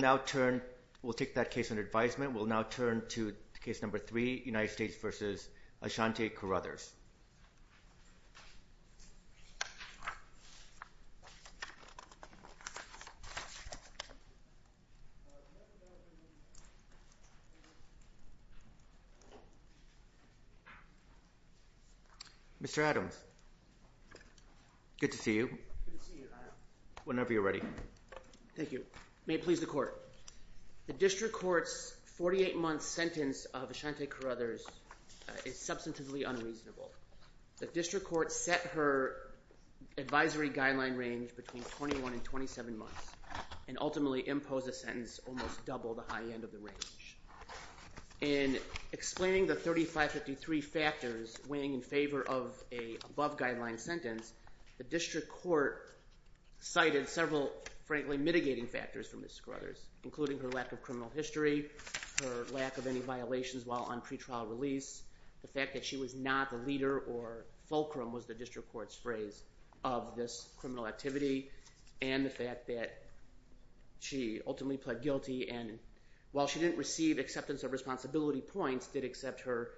We'll take that case under advisement. We'll now turn to case number three, United States v. Ashantae Corruthers. Mr. Adams, good to see you. Whenever you're ready. Thank you. May it please the Court. The District Court's 48-month sentence of Ashantae Corruthers is substantively unreasonable. The District Court set her advisory guideline range between 21 and 27 months and ultimately imposed a sentence almost double the high end of the range. In explaining the 3553 factors weighing in favor of an above-guideline sentence, the District Court cited several, frankly, mitigating factors for Ms. Corruthers, including her lack of criminal history, her lack of any violations while on pretrial release, the fact that she was not the leader or fulcrum, was the District Court's phrase, of this criminal activity, and the fact that she ultimately pled guilty and while she didn't receive acceptance of responsibility points, did accept her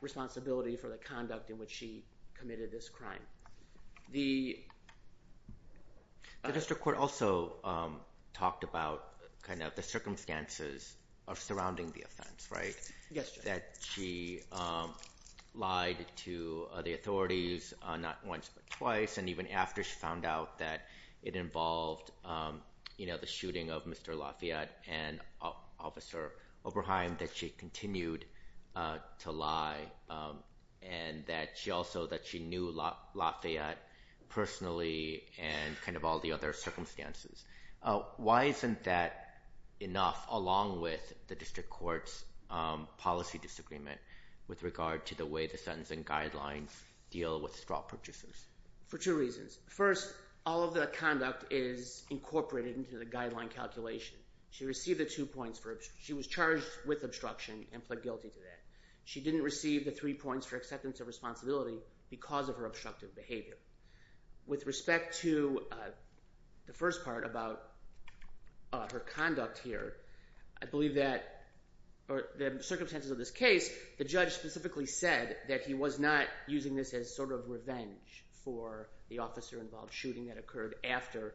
responsibility for the conduct in which she committed this crime. The District Court also talked about the circumstances of surrounding the offense, right? Yes, Judge. That she lied to the authorities not once but twice, and even after she found out that it involved the shooting of Mr. Lafayette and Officer Oberheim, that she continued to lie, and that she also knew Lafayette personally and all the other circumstances. Why isn't that enough, along with the District Court's policy disagreement with regard to the way the sentencing guidelines deal with straw purchasers? For two reasons. First, all of the conduct is incorporated into the guideline calculation. She received the two points for obstruction. She was charged with obstruction and pled guilty to that. She didn't receive the three points for acceptance of responsibility because of her obstructive behavior. With respect to the first part about her conduct here, I believe that the circumstances of this case, the judge specifically said that he was not using this as sort of revenge for the officer-involved shooting that occurred after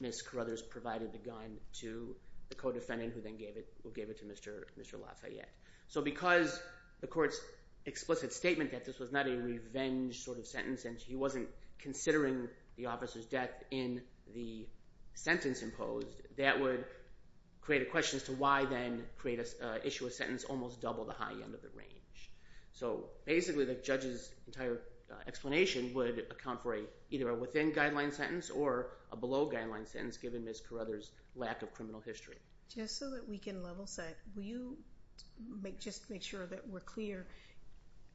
Ms. Carruthers provided the gun to the co-defendant who then gave it to Mr. Lafayette. So because the court's explicit statement that this was not a revenge sort of sentence and she wasn't considering the officer's death in the sentence imposed, that would create a question as to why then issue a sentence almost double the high end of the range. So basically the judge's entire explanation would account for either a within-guideline sentence or a below-guideline sentence given Ms. Carruthers' lack of criminal history. Just so that we can level set, just to make sure that we're clear,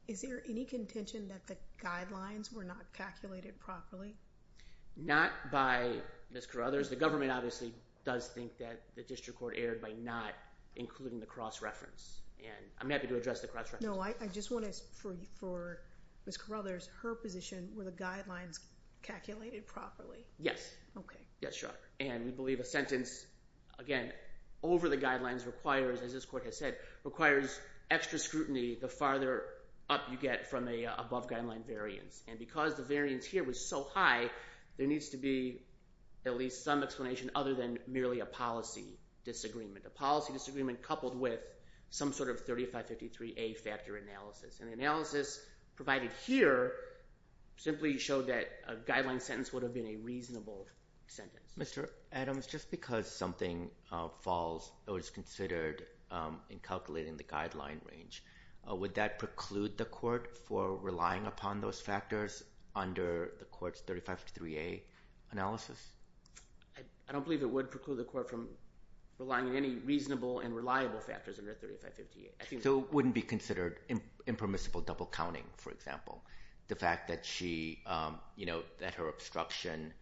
is there any contention that the guidelines were not calculated properly? Not by Ms. Carruthers. The government obviously does think that the district court erred by not including the cross-reference, and I'm happy to address the cross-reference. No, I just want to, for Ms. Carruthers, her position, were the guidelines calculated properly? Yes. Okay. Yes, sure. And we believe a sentence, again, over the guidelines requires, as this court has said, requires extra scrutiny the farther up you get from a above-guideline variance. And because the variance here was so high, there needs to be at least some explanation other than merely a policy disagreement. A policy disagreement coupled with some sort of 3553A factor analysis. And the analysis provided here simply showed that a guideline sentence would have been a reasonable sentence. Mr. Adams, just because something falls or is considered in calculating the guideline range, would that preclude the court for relying upon those factors under the court's 3553A analysis? I don't believe it would preclude the court from relying on any reasonable and reliable factors under 3553A. So it wouldn't be considered impermissible double-counting, for example. The fact that she, you know, that her obstruction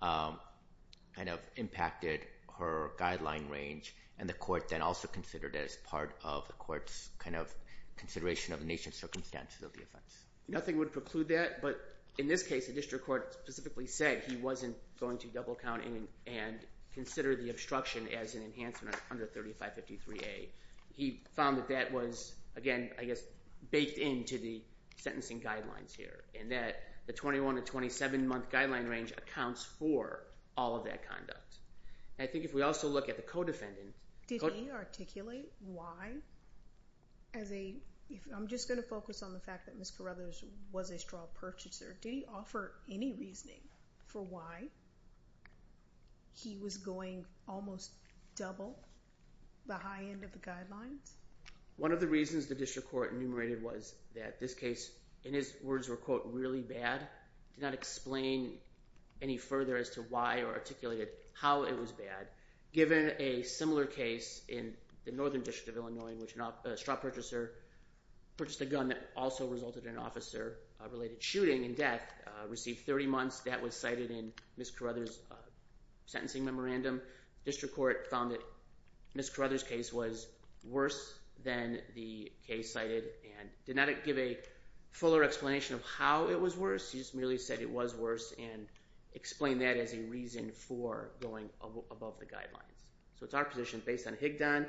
kind of impacted her guideline range and the court then also considered it as part of the court's kind of consideration of the nation's circumstances of the offense. Nothing would preclude that, but in this case, the district court specifically said he wasn't going to double-count and consider the obstruction as an enhancement under 3553A. He found that that was, again, I guess, baked into the sentencing guidelines here and that the 21- to 27-month guideline range accounts for all of that conduct. I think if we also look at the co-defendant. Did he articulate why as a – I'm just going to focus on the fact that Ms. Carruthers was a straw purchaser. Did he offer any reasoning for why he was going almost double the high end of the guidelines? One of the reasons the district court enumerated was that this case, in his words, were, quote, really bad. He did not explain any further as to why or articulated how it was bad. Given a similar case in the Northern District of Illinois in which a straw purchaser purchased a gun that also resulted in an officer-related shooting and death, received 30 months. That was cited in Ms. Carruthers' sentencing memorandum. The district court found that Ms. Carruthers' case was worse than the case cited and did not give a fuller explanation of how it was worse. He just merely said it was worse and explained that as a reason for going above the guidelines. So it's our position based on Higdon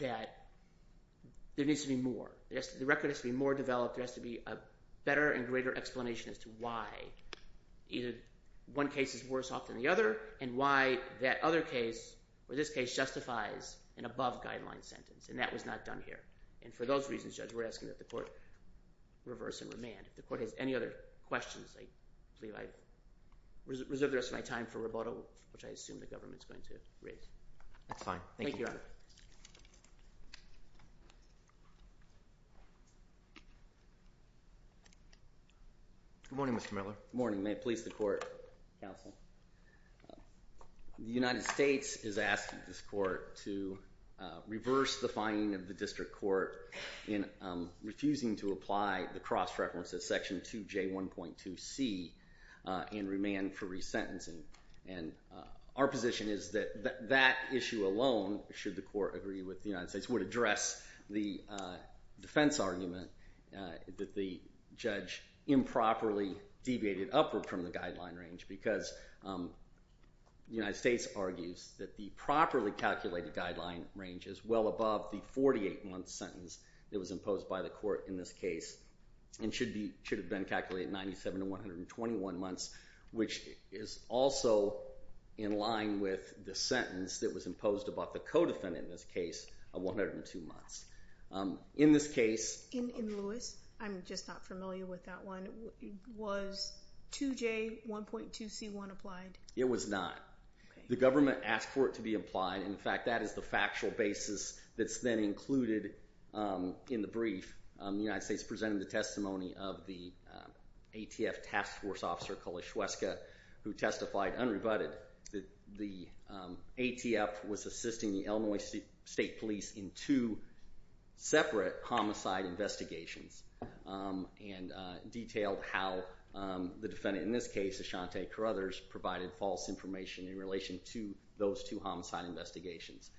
that there needs to be more. The record has to be more developed. There has to be a better and greater explanation as to why either one case is worse off than the other and why that other case or this case justifies an above-guideline sentence, and that was not done here. And for those reasons, Judge, we're asking that the court reverse and remand. If the court has any other questions, I believe I've reserved the rest of my time for rebuttal, which I assume the government is going to raise. That's fine. Thank you. Thank you, Your Honor. Good morning, Mr. Miller. Good morning. May it please the court, counsel. The United States is asking this court to reverse the finding of the district court in refusing to apply the cross-reference at Section 2J1.2c and remand for resentencing. And our position is that that issue alone, should the court agree with the United States, would address the defense argument that the judge improperly deviated upward from the guideline range because the United States argues that the properly calculated guideline range is well above the 48-month sentence that was imposed by the court in this case and should have been calculated 97 to 121 months, which is also in line with the sentence that was imposed about the co-defendant in this case of 102 months. In this case— In Lewis, I'm just not familiar with that one. Was 2J1.2c1 applied? It was not. The government asked for it to be applied. In fact, that is the factual basis that's then included in the brief. The United States presented the testimony of the ATF task force officer, Kolesh Hueska, who testified unrebutted that the ATF was assisting the Illinois State Police in two separate homicide investigations and detailed how the defendant in this case, Ashante Carruthers, provided false information in relation to those two homicide investigations.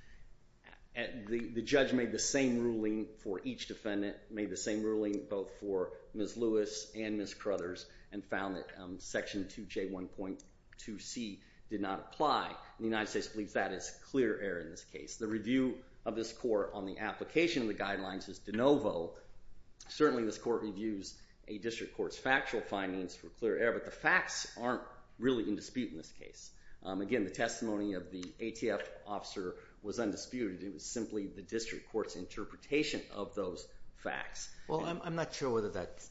The judge made the same ruling for each defendant, made the same ruling both for Ms. Lewis and Ms. Carruthers, and found that section 2J1.2c did not apply. The United States believes that is clear error in this case. The review of this court on the application of the guidelines is de novo. Certainly, this court reviews a district court's factual findings for clear error, but the facts aren't really in dispute in this case. Again, the testimony of the ATF officer was undisputed. It was simply the district court's interpretation of those facts. Well, I'm not sure whether that's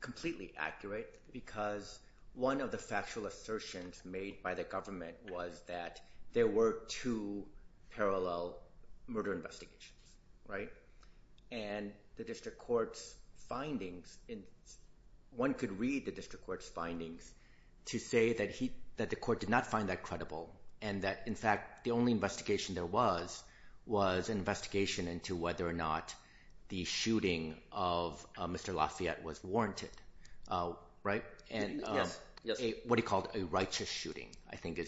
completely accurate because one of the factual assertions made by the government was that there were two parallel murder investigations, right? And the district court's findings, one could read the district court's findings to say that the court did not find that credible and that, in fact, the only investigation there was was an investigation into whether or not the shooting of Mr. Lafayette was warranted, right? Yes. What he called a righteous shooting, I think.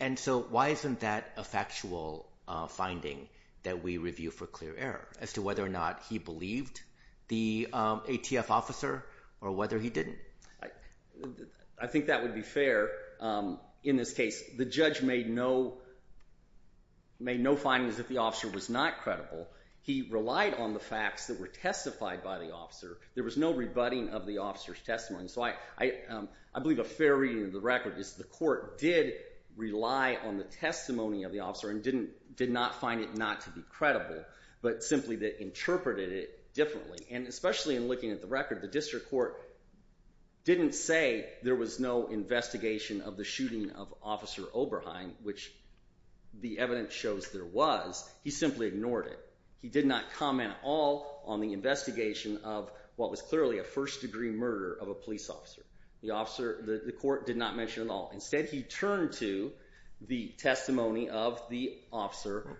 And so why isn't that a factual finding that we review for clear error as to whether or not he believed the ATF officer or whether he didn't? I think that would be fair in this case. The judge made no findings that the officer was not credible. He relied on the facts that were testified by the officer. There was no rebutting of the officer's testimony. So I believe a fair reading of the record is the court did rely on the testimony of the officer and did not find it not to be credible, but simply they interpreted it differently. And especially in looking at the record, the district court didn't say there was no investigation of the shooting of Officer Oberheim, which the evidence shows there was. He simply ignored it. He did not comment at all on the investigation of what was clearly a first-degree murder of a police officer. The court did not mention it at all. Instead, he turned to the testimony of the officer.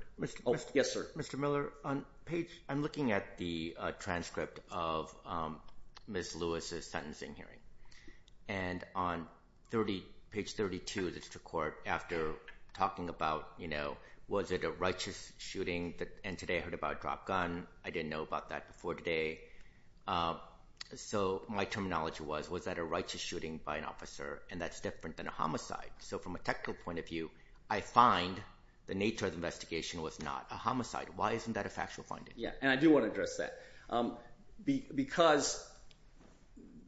Yes, sir. Mr. Miller, I'm looking at the transcript of Ms. Lewis's sentencing hearing. And on page 32 of the district court, after talking about, you know, was it a righteous shooting? And today I heard about a dropped gun. I didn't know about that before today. So my terminology was was that a righteous shooting by an officer, and that's different than a homicide. So from a technical point of view, I find the nature of the investigation was not a homicide. Why isn't that a factual finding? Yeah, and I do want to address that because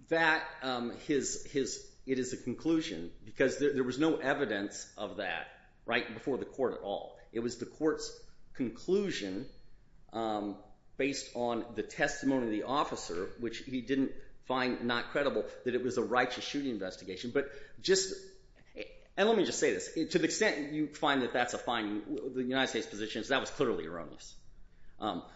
that is a conclusion because there was no evidence of that right before the court at all. It was the court's conclusion based on the testimony of the officer, which he didn't find not credible that it was a righteous shooting investigation. But just—and let me just say this. To the extent you find that that's a finding, the United States position is that was clearly erroneous.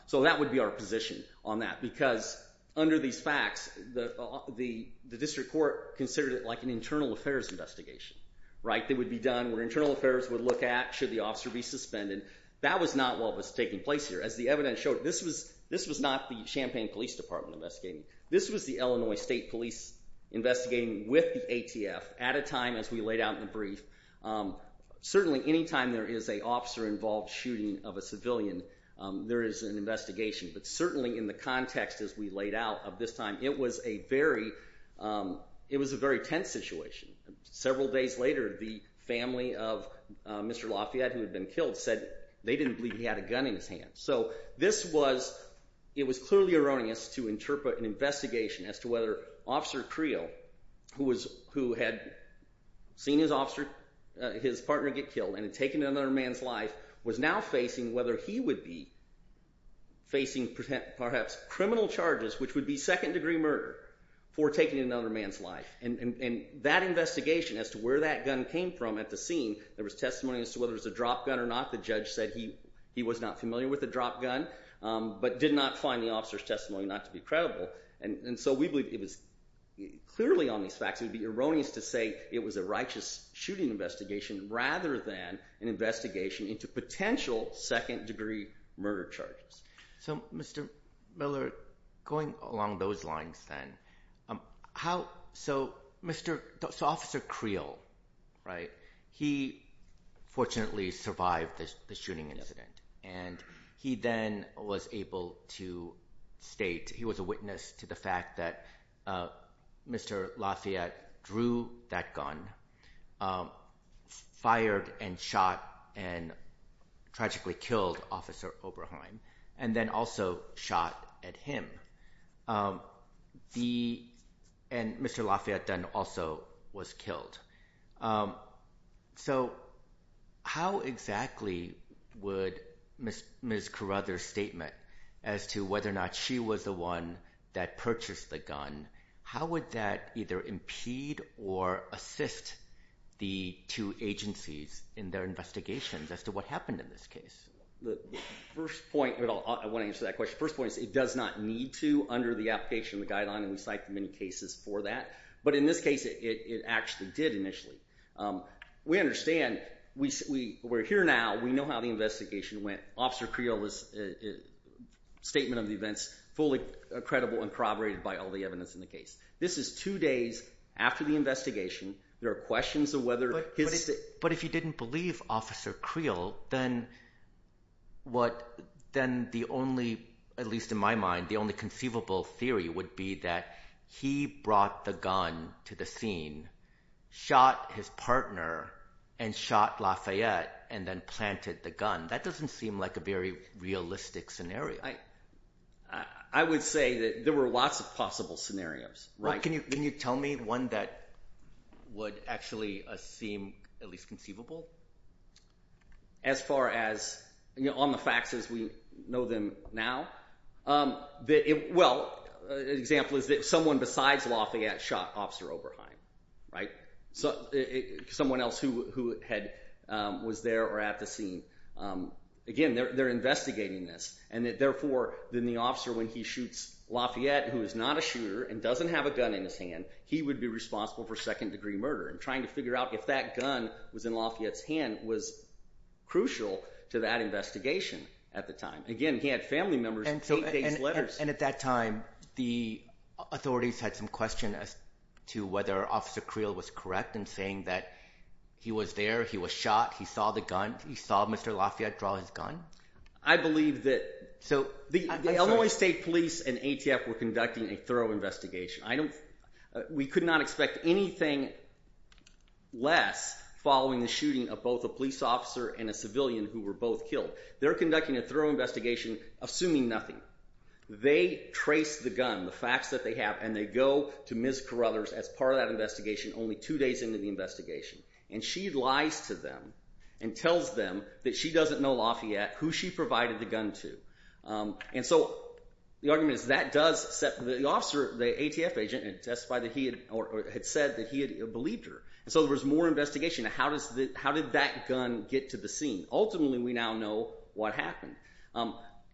So that would be our position on that because under these facts, the district court considered it like an internal affairs investigation, right? It would be done where internal affairs would look at should the officer be suspended. That was not what was taking place here. As the evidence showed, this was not the Champaign Police Department investigating. This was the Illinois State Police investigating with the ATF at a time as we laid out in the brief. Certainly any time there is an officer-involved shooting of a civilian, there is an investigation. But certainly in the context as we laid out of this time, it was a very tense situation. Several days later, the family of Mr. Lafayette, who had been killed, said they didn't believe he had a gun in his hand. So this was—it was clearly erroneous to interpret an investigation as to whether Officer Creel, who had seen his partner get killed and had taken another man's life, was now facing whether he would be facing perhaps criminal charges, which would be second-degree murder, for taking another man's life. And that investigation as to where that gun came from at the scene, there was testimony as to whether it was a drop gun or not. The judge said he was not familiar with a drop gun but did not find the officer's testimony not to be credible. And so we believe it was clearly on these facts. It would be erroneous to say it was a righteous shooting investigation rather than an investigation into potential second-degree murder charges. So, Mr. Miller, going along those lines then, how—so Mr.—so Officer Creel, right, he fortunately survived the shooting incident. And he then was able to state he was a witness to the fact that Mr. Lafayette drew that gun, fired and shot and tragically killed Officer Oberheim, and then also shot at him. The—and Mr. Lafayette then also was killed. So how exactly would Ms. Carruthers' statement as to whether or not she was the one that purchased the gun, how would that either impede or assist the two agencies in their investigations as to what happened in this case? The first point—I want to answer that question. The first point is it does not need to under the application of the Guideline, and we cite the many cases for that. But in this case, it actually did initially. We understand—we're here now. We know how the investigation went. Officer Creel's statement of the events fully credible and corroborated by all the evidence in the case. This is two days after the investigation. There are questions of whether his— But if you didn't believe Officer Creel, then what—then the only—at least in my mind, the only conceivable theory would be that he brought the gun to the scene, shot his partner, and shot Lafayette, and then planted the gun. That doesn't seem like a very realistic scenario. I would say that there were lots of possible scenarios. Can you tell me one that would actually seem at least conceivable? As far as—on the facts as we know them now. Well, an example is that someone besides Lafayette shot Officer Oberheim, someone else who was there or at the scene. Again, they're investigating this. And therefore, then the officer, when he shoots Lafayette, who is not a shooter and doesn't have a gun in his hand, he would be responsible for second-degree murder. And trying to figure out if that gun was in Lafayette's hand was crucial to that investigation at the time. Again, he had family members' eight days' letters. And at that time, the authorities had some questions as to whether Officer Creel was correct in saying that he was there, he was shot, he saw the gun, he saw Mr. Lafayette draw his gun? I believe that—so the Illinois State Police and ATF were conducting a thorough investigation. I don't—we could not expect anything less following the shooting of both a police officer and a civilian who were both killed. They're conducting a thorough investigation assuming nothing. They trace the gun, the facts that they have, and they go to Ms. Carruthers as part of that investigation only two days into the investigation. And she lies to them and tells them that she doesn't know Lafayette, who she provided the gun to. And so the argument is that does set—the officer, the ATF agent, had testified that he had—or had said that he had believed her. And so there was more investigation. How did that gun get to the scene? Ultimately, we now know what happened.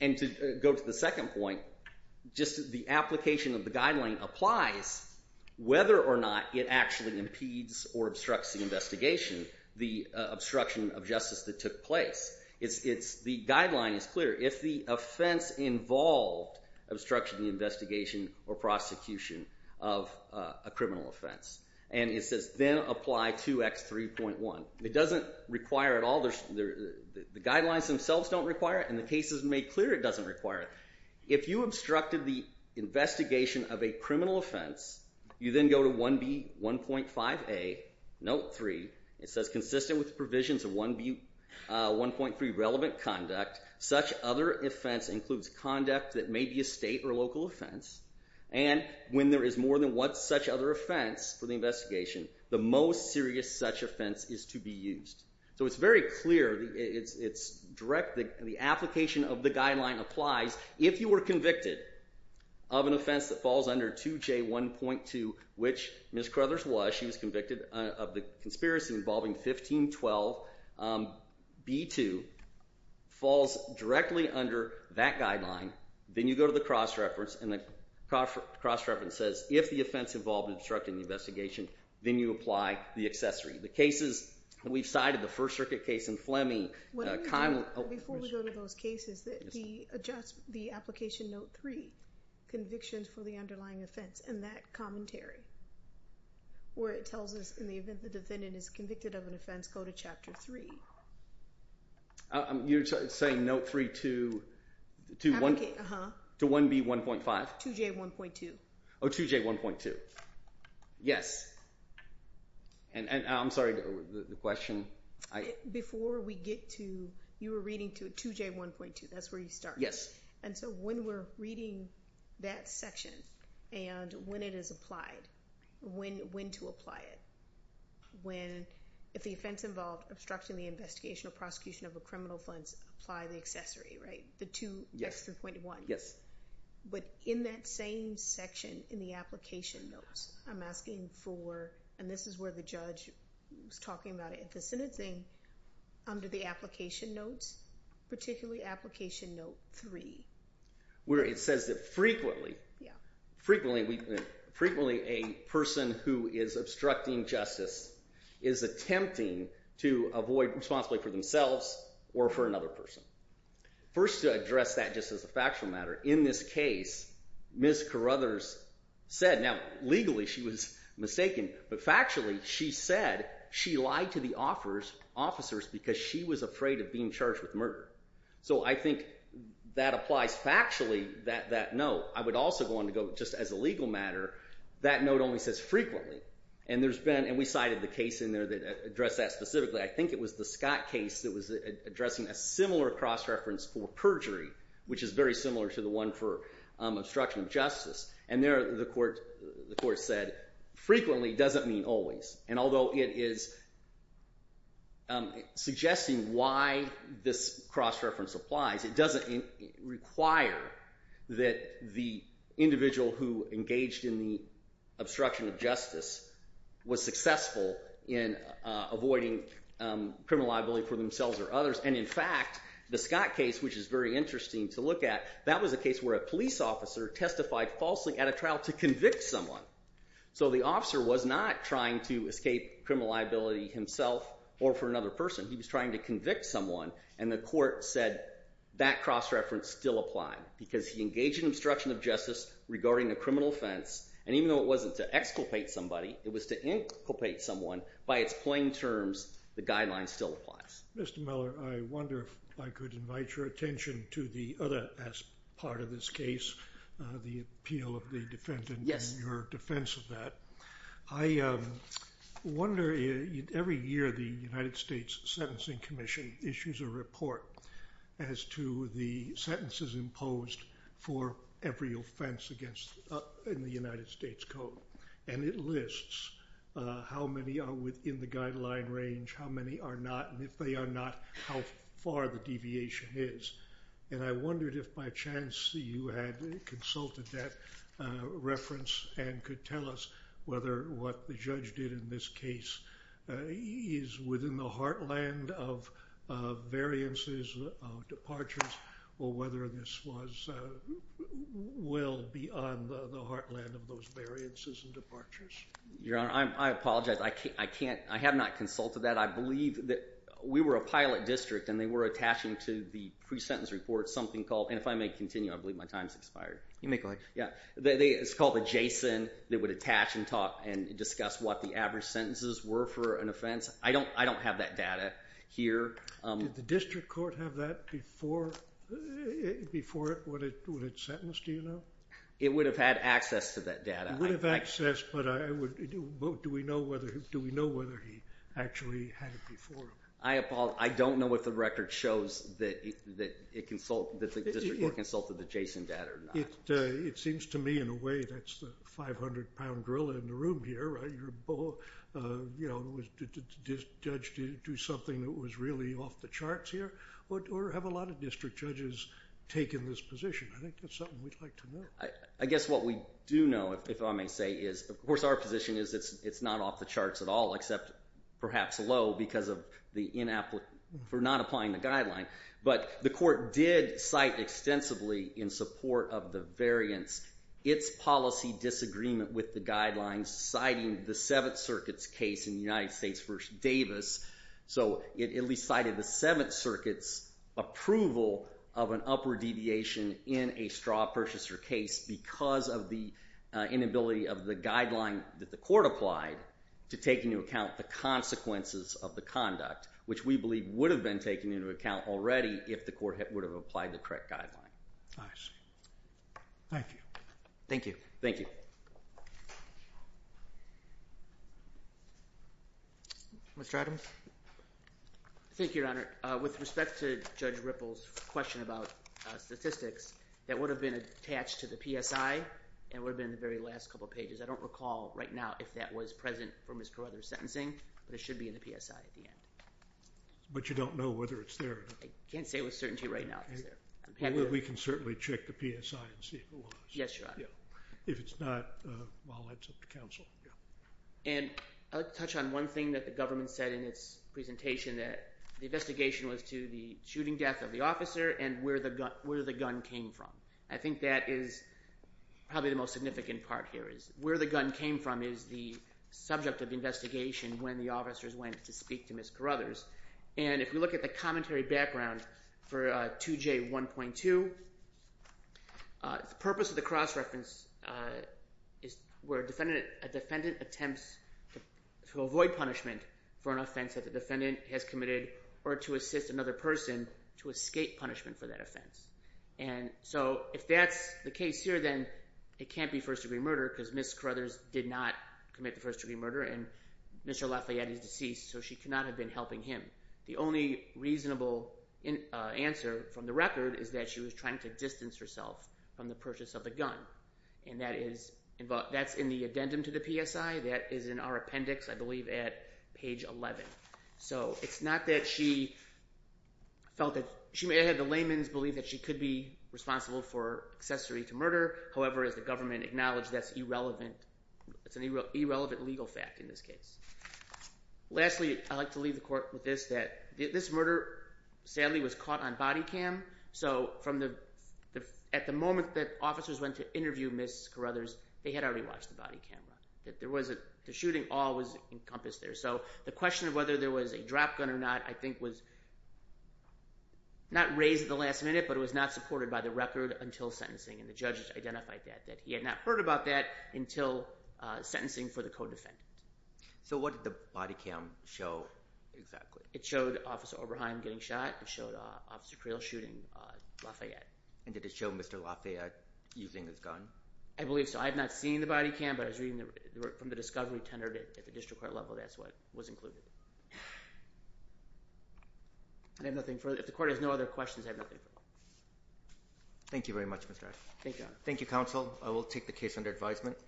And to go to the second point, just the application of the guideline applies whether or not it actually impedes or obstructs the investigation, the obstruction of justice that took place. It's—the guideline is clear. If the offense involved obstruction of the investigation or prosecution of a criminal offense, and it says then apply 2X3.1, it doesn't require at all—the guidelines themselves don't require it. And the case is made clear it doesn't require it. If you obstructed the investigation of a criminal offense, you then go to 1B1.5A, note 3. It says consistent with the provisions of 1B1.3 relevant conduct, such other offense includes conduct that may be a state or local offense. And when there is more than one such other offense for the investigation, the most serious such offense is to be used. So it's very clear. It's direct—the application of the guideline applies. If you were convicted of an offense that falls under 2J1.2, which Ms. Crothers was. She was convicted of the conspiracy involving 1512. B2 falls directly under that guideline. Then you go to the cross-reference, and the cross-reference says if the offense involved obstructing the investigation, then you apply the accessory. The cases—we've cited the First Circuit case in Fleming— Before we go to those cases, the application note 3, convictions for the underlying offense, and that commentary, where it tells us in the event the defendant is convicted of an offense, go to Chapter 3. You're saying note 3 to 1B1.5? 2J1.2. Oh, 2J1.2. Yes. I'm sorry. The question? Before we get to—you were reading 2J1.2. That's where you started. Yes. So when we're reading that section and when it is applied, when to apply it, if the offense involved obstructing the investigation or prosecution of a criminal offense, apply the accessory, right? The 2X3.1. Yes. But in that same section in the application notes, I'm asking for—and this is where the judge was talking about it— the sentencing under the application notes, particularly application note 3. Where it says that frequently— Yeah. Frequently a person who is obstructing justice is attempting to avoid responsibility for themselves or for another person. First, to address that just as a factual matter, in this case, Ms. Carruthers said—now, legally she was mistaken, but factually she said she lied to the officers because she was afraid of being charged with murder. So I think that applies factually, that note. I would also want to go, just as a legal matter, that note only says frequently. And there's been—and we cited the case in there that addressed that specifically. I think it was the Scott case that was addressing a similar cross-reference for perjury, which is very similar to the one for obstruction of justice. And there the court said frequently doesn't mean always. And although it is suggesting why this cross-reference applies, it doesn't require that the individual who engaged in the obstruction of justice was successful in avoiding criminal liability for themselves or others. And, in fact, the Scott case, which is very interesting to look at, that was a case where a police officer testified falsely at a trial to convict someone. So the officer was not trying to escape criminal liability himself or for another person. He was trying to convict someone, and the court said that cross-reference still applied because he engaged in obstruction of justice regarding a criminal offense. And even though it wasn't to exculpate somebody, it was to inculpate someone, by its plain terms, the guideline still applies. Mr. Miller, I wonder if I could invite your attention to the other part of this case, the appeal of the defendant and your defense of that. I wonder, every year the United States Sentencing Commission issues a report as to the sentences imposed for every offense in the United States Code. And it lists how many are within the guideline range, how many are not, and if they are not, how far the deviation is. And I wondered if by chance you had consulted that reference and could tell us whether what the judge did in this case is within the heartland of variances, of departures, or whether this was well beyond the heartland of those variances and departures. Your Honor, I apologize. I have not consulted that. We were a pilot district, and they were attaching to the pre-sentence report something called – and if I may continue, I believe my time has expired. You may go ahead. It's called a JSON. They would attach and discuss what the average sentences were for an offense. I don't have that data here. Did the district court have that before it was sentenced, do you know? It would have had access to that data. It would have access, but do we know whether he actually had it before? I apologize. I don't know if the record shows that the district court consulted the JSON data or not. It seems to me in a way that's the 500-pound gorilla in the room here. Did the judge do something that was really off the charts here? Or have a lot of district judges taken this position? I think that's something we'd like to know. I guess what we do know, if I may say, is of course our position is it's not off the charts at all except perhaps low because of the inapplicable – for not applying the guideline. But the court did cite extensively in support of the variance its policy disagreement with the guidelines citing the Seventh Circuit's case in the United States v. Davis. So it at least cited the Seventh Circuit's approval of an upward deviation in a straw purchaser case because of the inability of the guideline that the court applied to take into account the consequences of the conduct, which we believe would have been taken into account already if the court would have applied the correct guideline. I see. Thank you. Thank you. Thank you. Mr. Adams? Thank you, Your Honor. With respect to Judge Ripple's question about statistics, that would have been attached to the PSI and would have been in the very last couple of pages. I don't recall right now if that was present from his brother's sentencing, but it should be in the PSI at the end. But you don't know whether it's there or not? I can't say with certainty right now if it's there. We can certainly check the PSI and see if it was. Yes, Your Honor. If it's not, well, that's up to counsel. And I'll touch on one thing that the government said in its presentation, that the investigation was to the shooting death of the officer and where the gun came from. I think that is probably the most significant part here is where the gun came from is the subject of the investigation when the officers went to speak to Ms. Carruthers. And if we look at the commentary background for 2J1.2, the purpose of the cross-reference is where a defendant attempts to avoid punishment for an offense that the defendant has committed or to assist another person to escape punishment for that offense. And so if that's the case here, then it can't be first-degree murder because Ms. Carruthers did not commit the first-degree murder and Mr. Lafayette is deceased, so she could not have been helping him. The only reasonable answer from the record is that she was trying to distance herself from the purchase of the gun. And that's in the addendum to the PSI. That is in our appendix, I believe, at page 11. So it's not that she felt that – she may have had the layman's belief that she could be responsible for accessory to murder. However, as the government acknowledged, that's irrelevant. It's an irrelevant legal fact in this case. Lastly, I'd like to leave the court with this, that this murder sadly was caught on body cam. So from the – at the moment that officers went to interview Ms. Carruthers, they had already watched the body cam run. There was a – the shooting all was encompassed there. So the question of whether there was a drop gun or not I think was not raised at the last minute, but it was not supported by the record until sentencing. And the judges identified that, that he had not heard about that until sentencing for the co-defendant. So what did the body cam show exactly? It showed Officer Oberheim getting shot. It showed Officer Creel shooting Lafayette. And did it show Mr. Lafayette using his gun? I believe so. I have not seen the body cam, but I was reading the – from the discovery tendered at the district court level. That's what was included. I have nothing further – if the court has no other questions, I have nothing further. Thank you very much, Mr. Ash. Thank you, Your Honor. Thank you, counsel. I will take the case under advisement.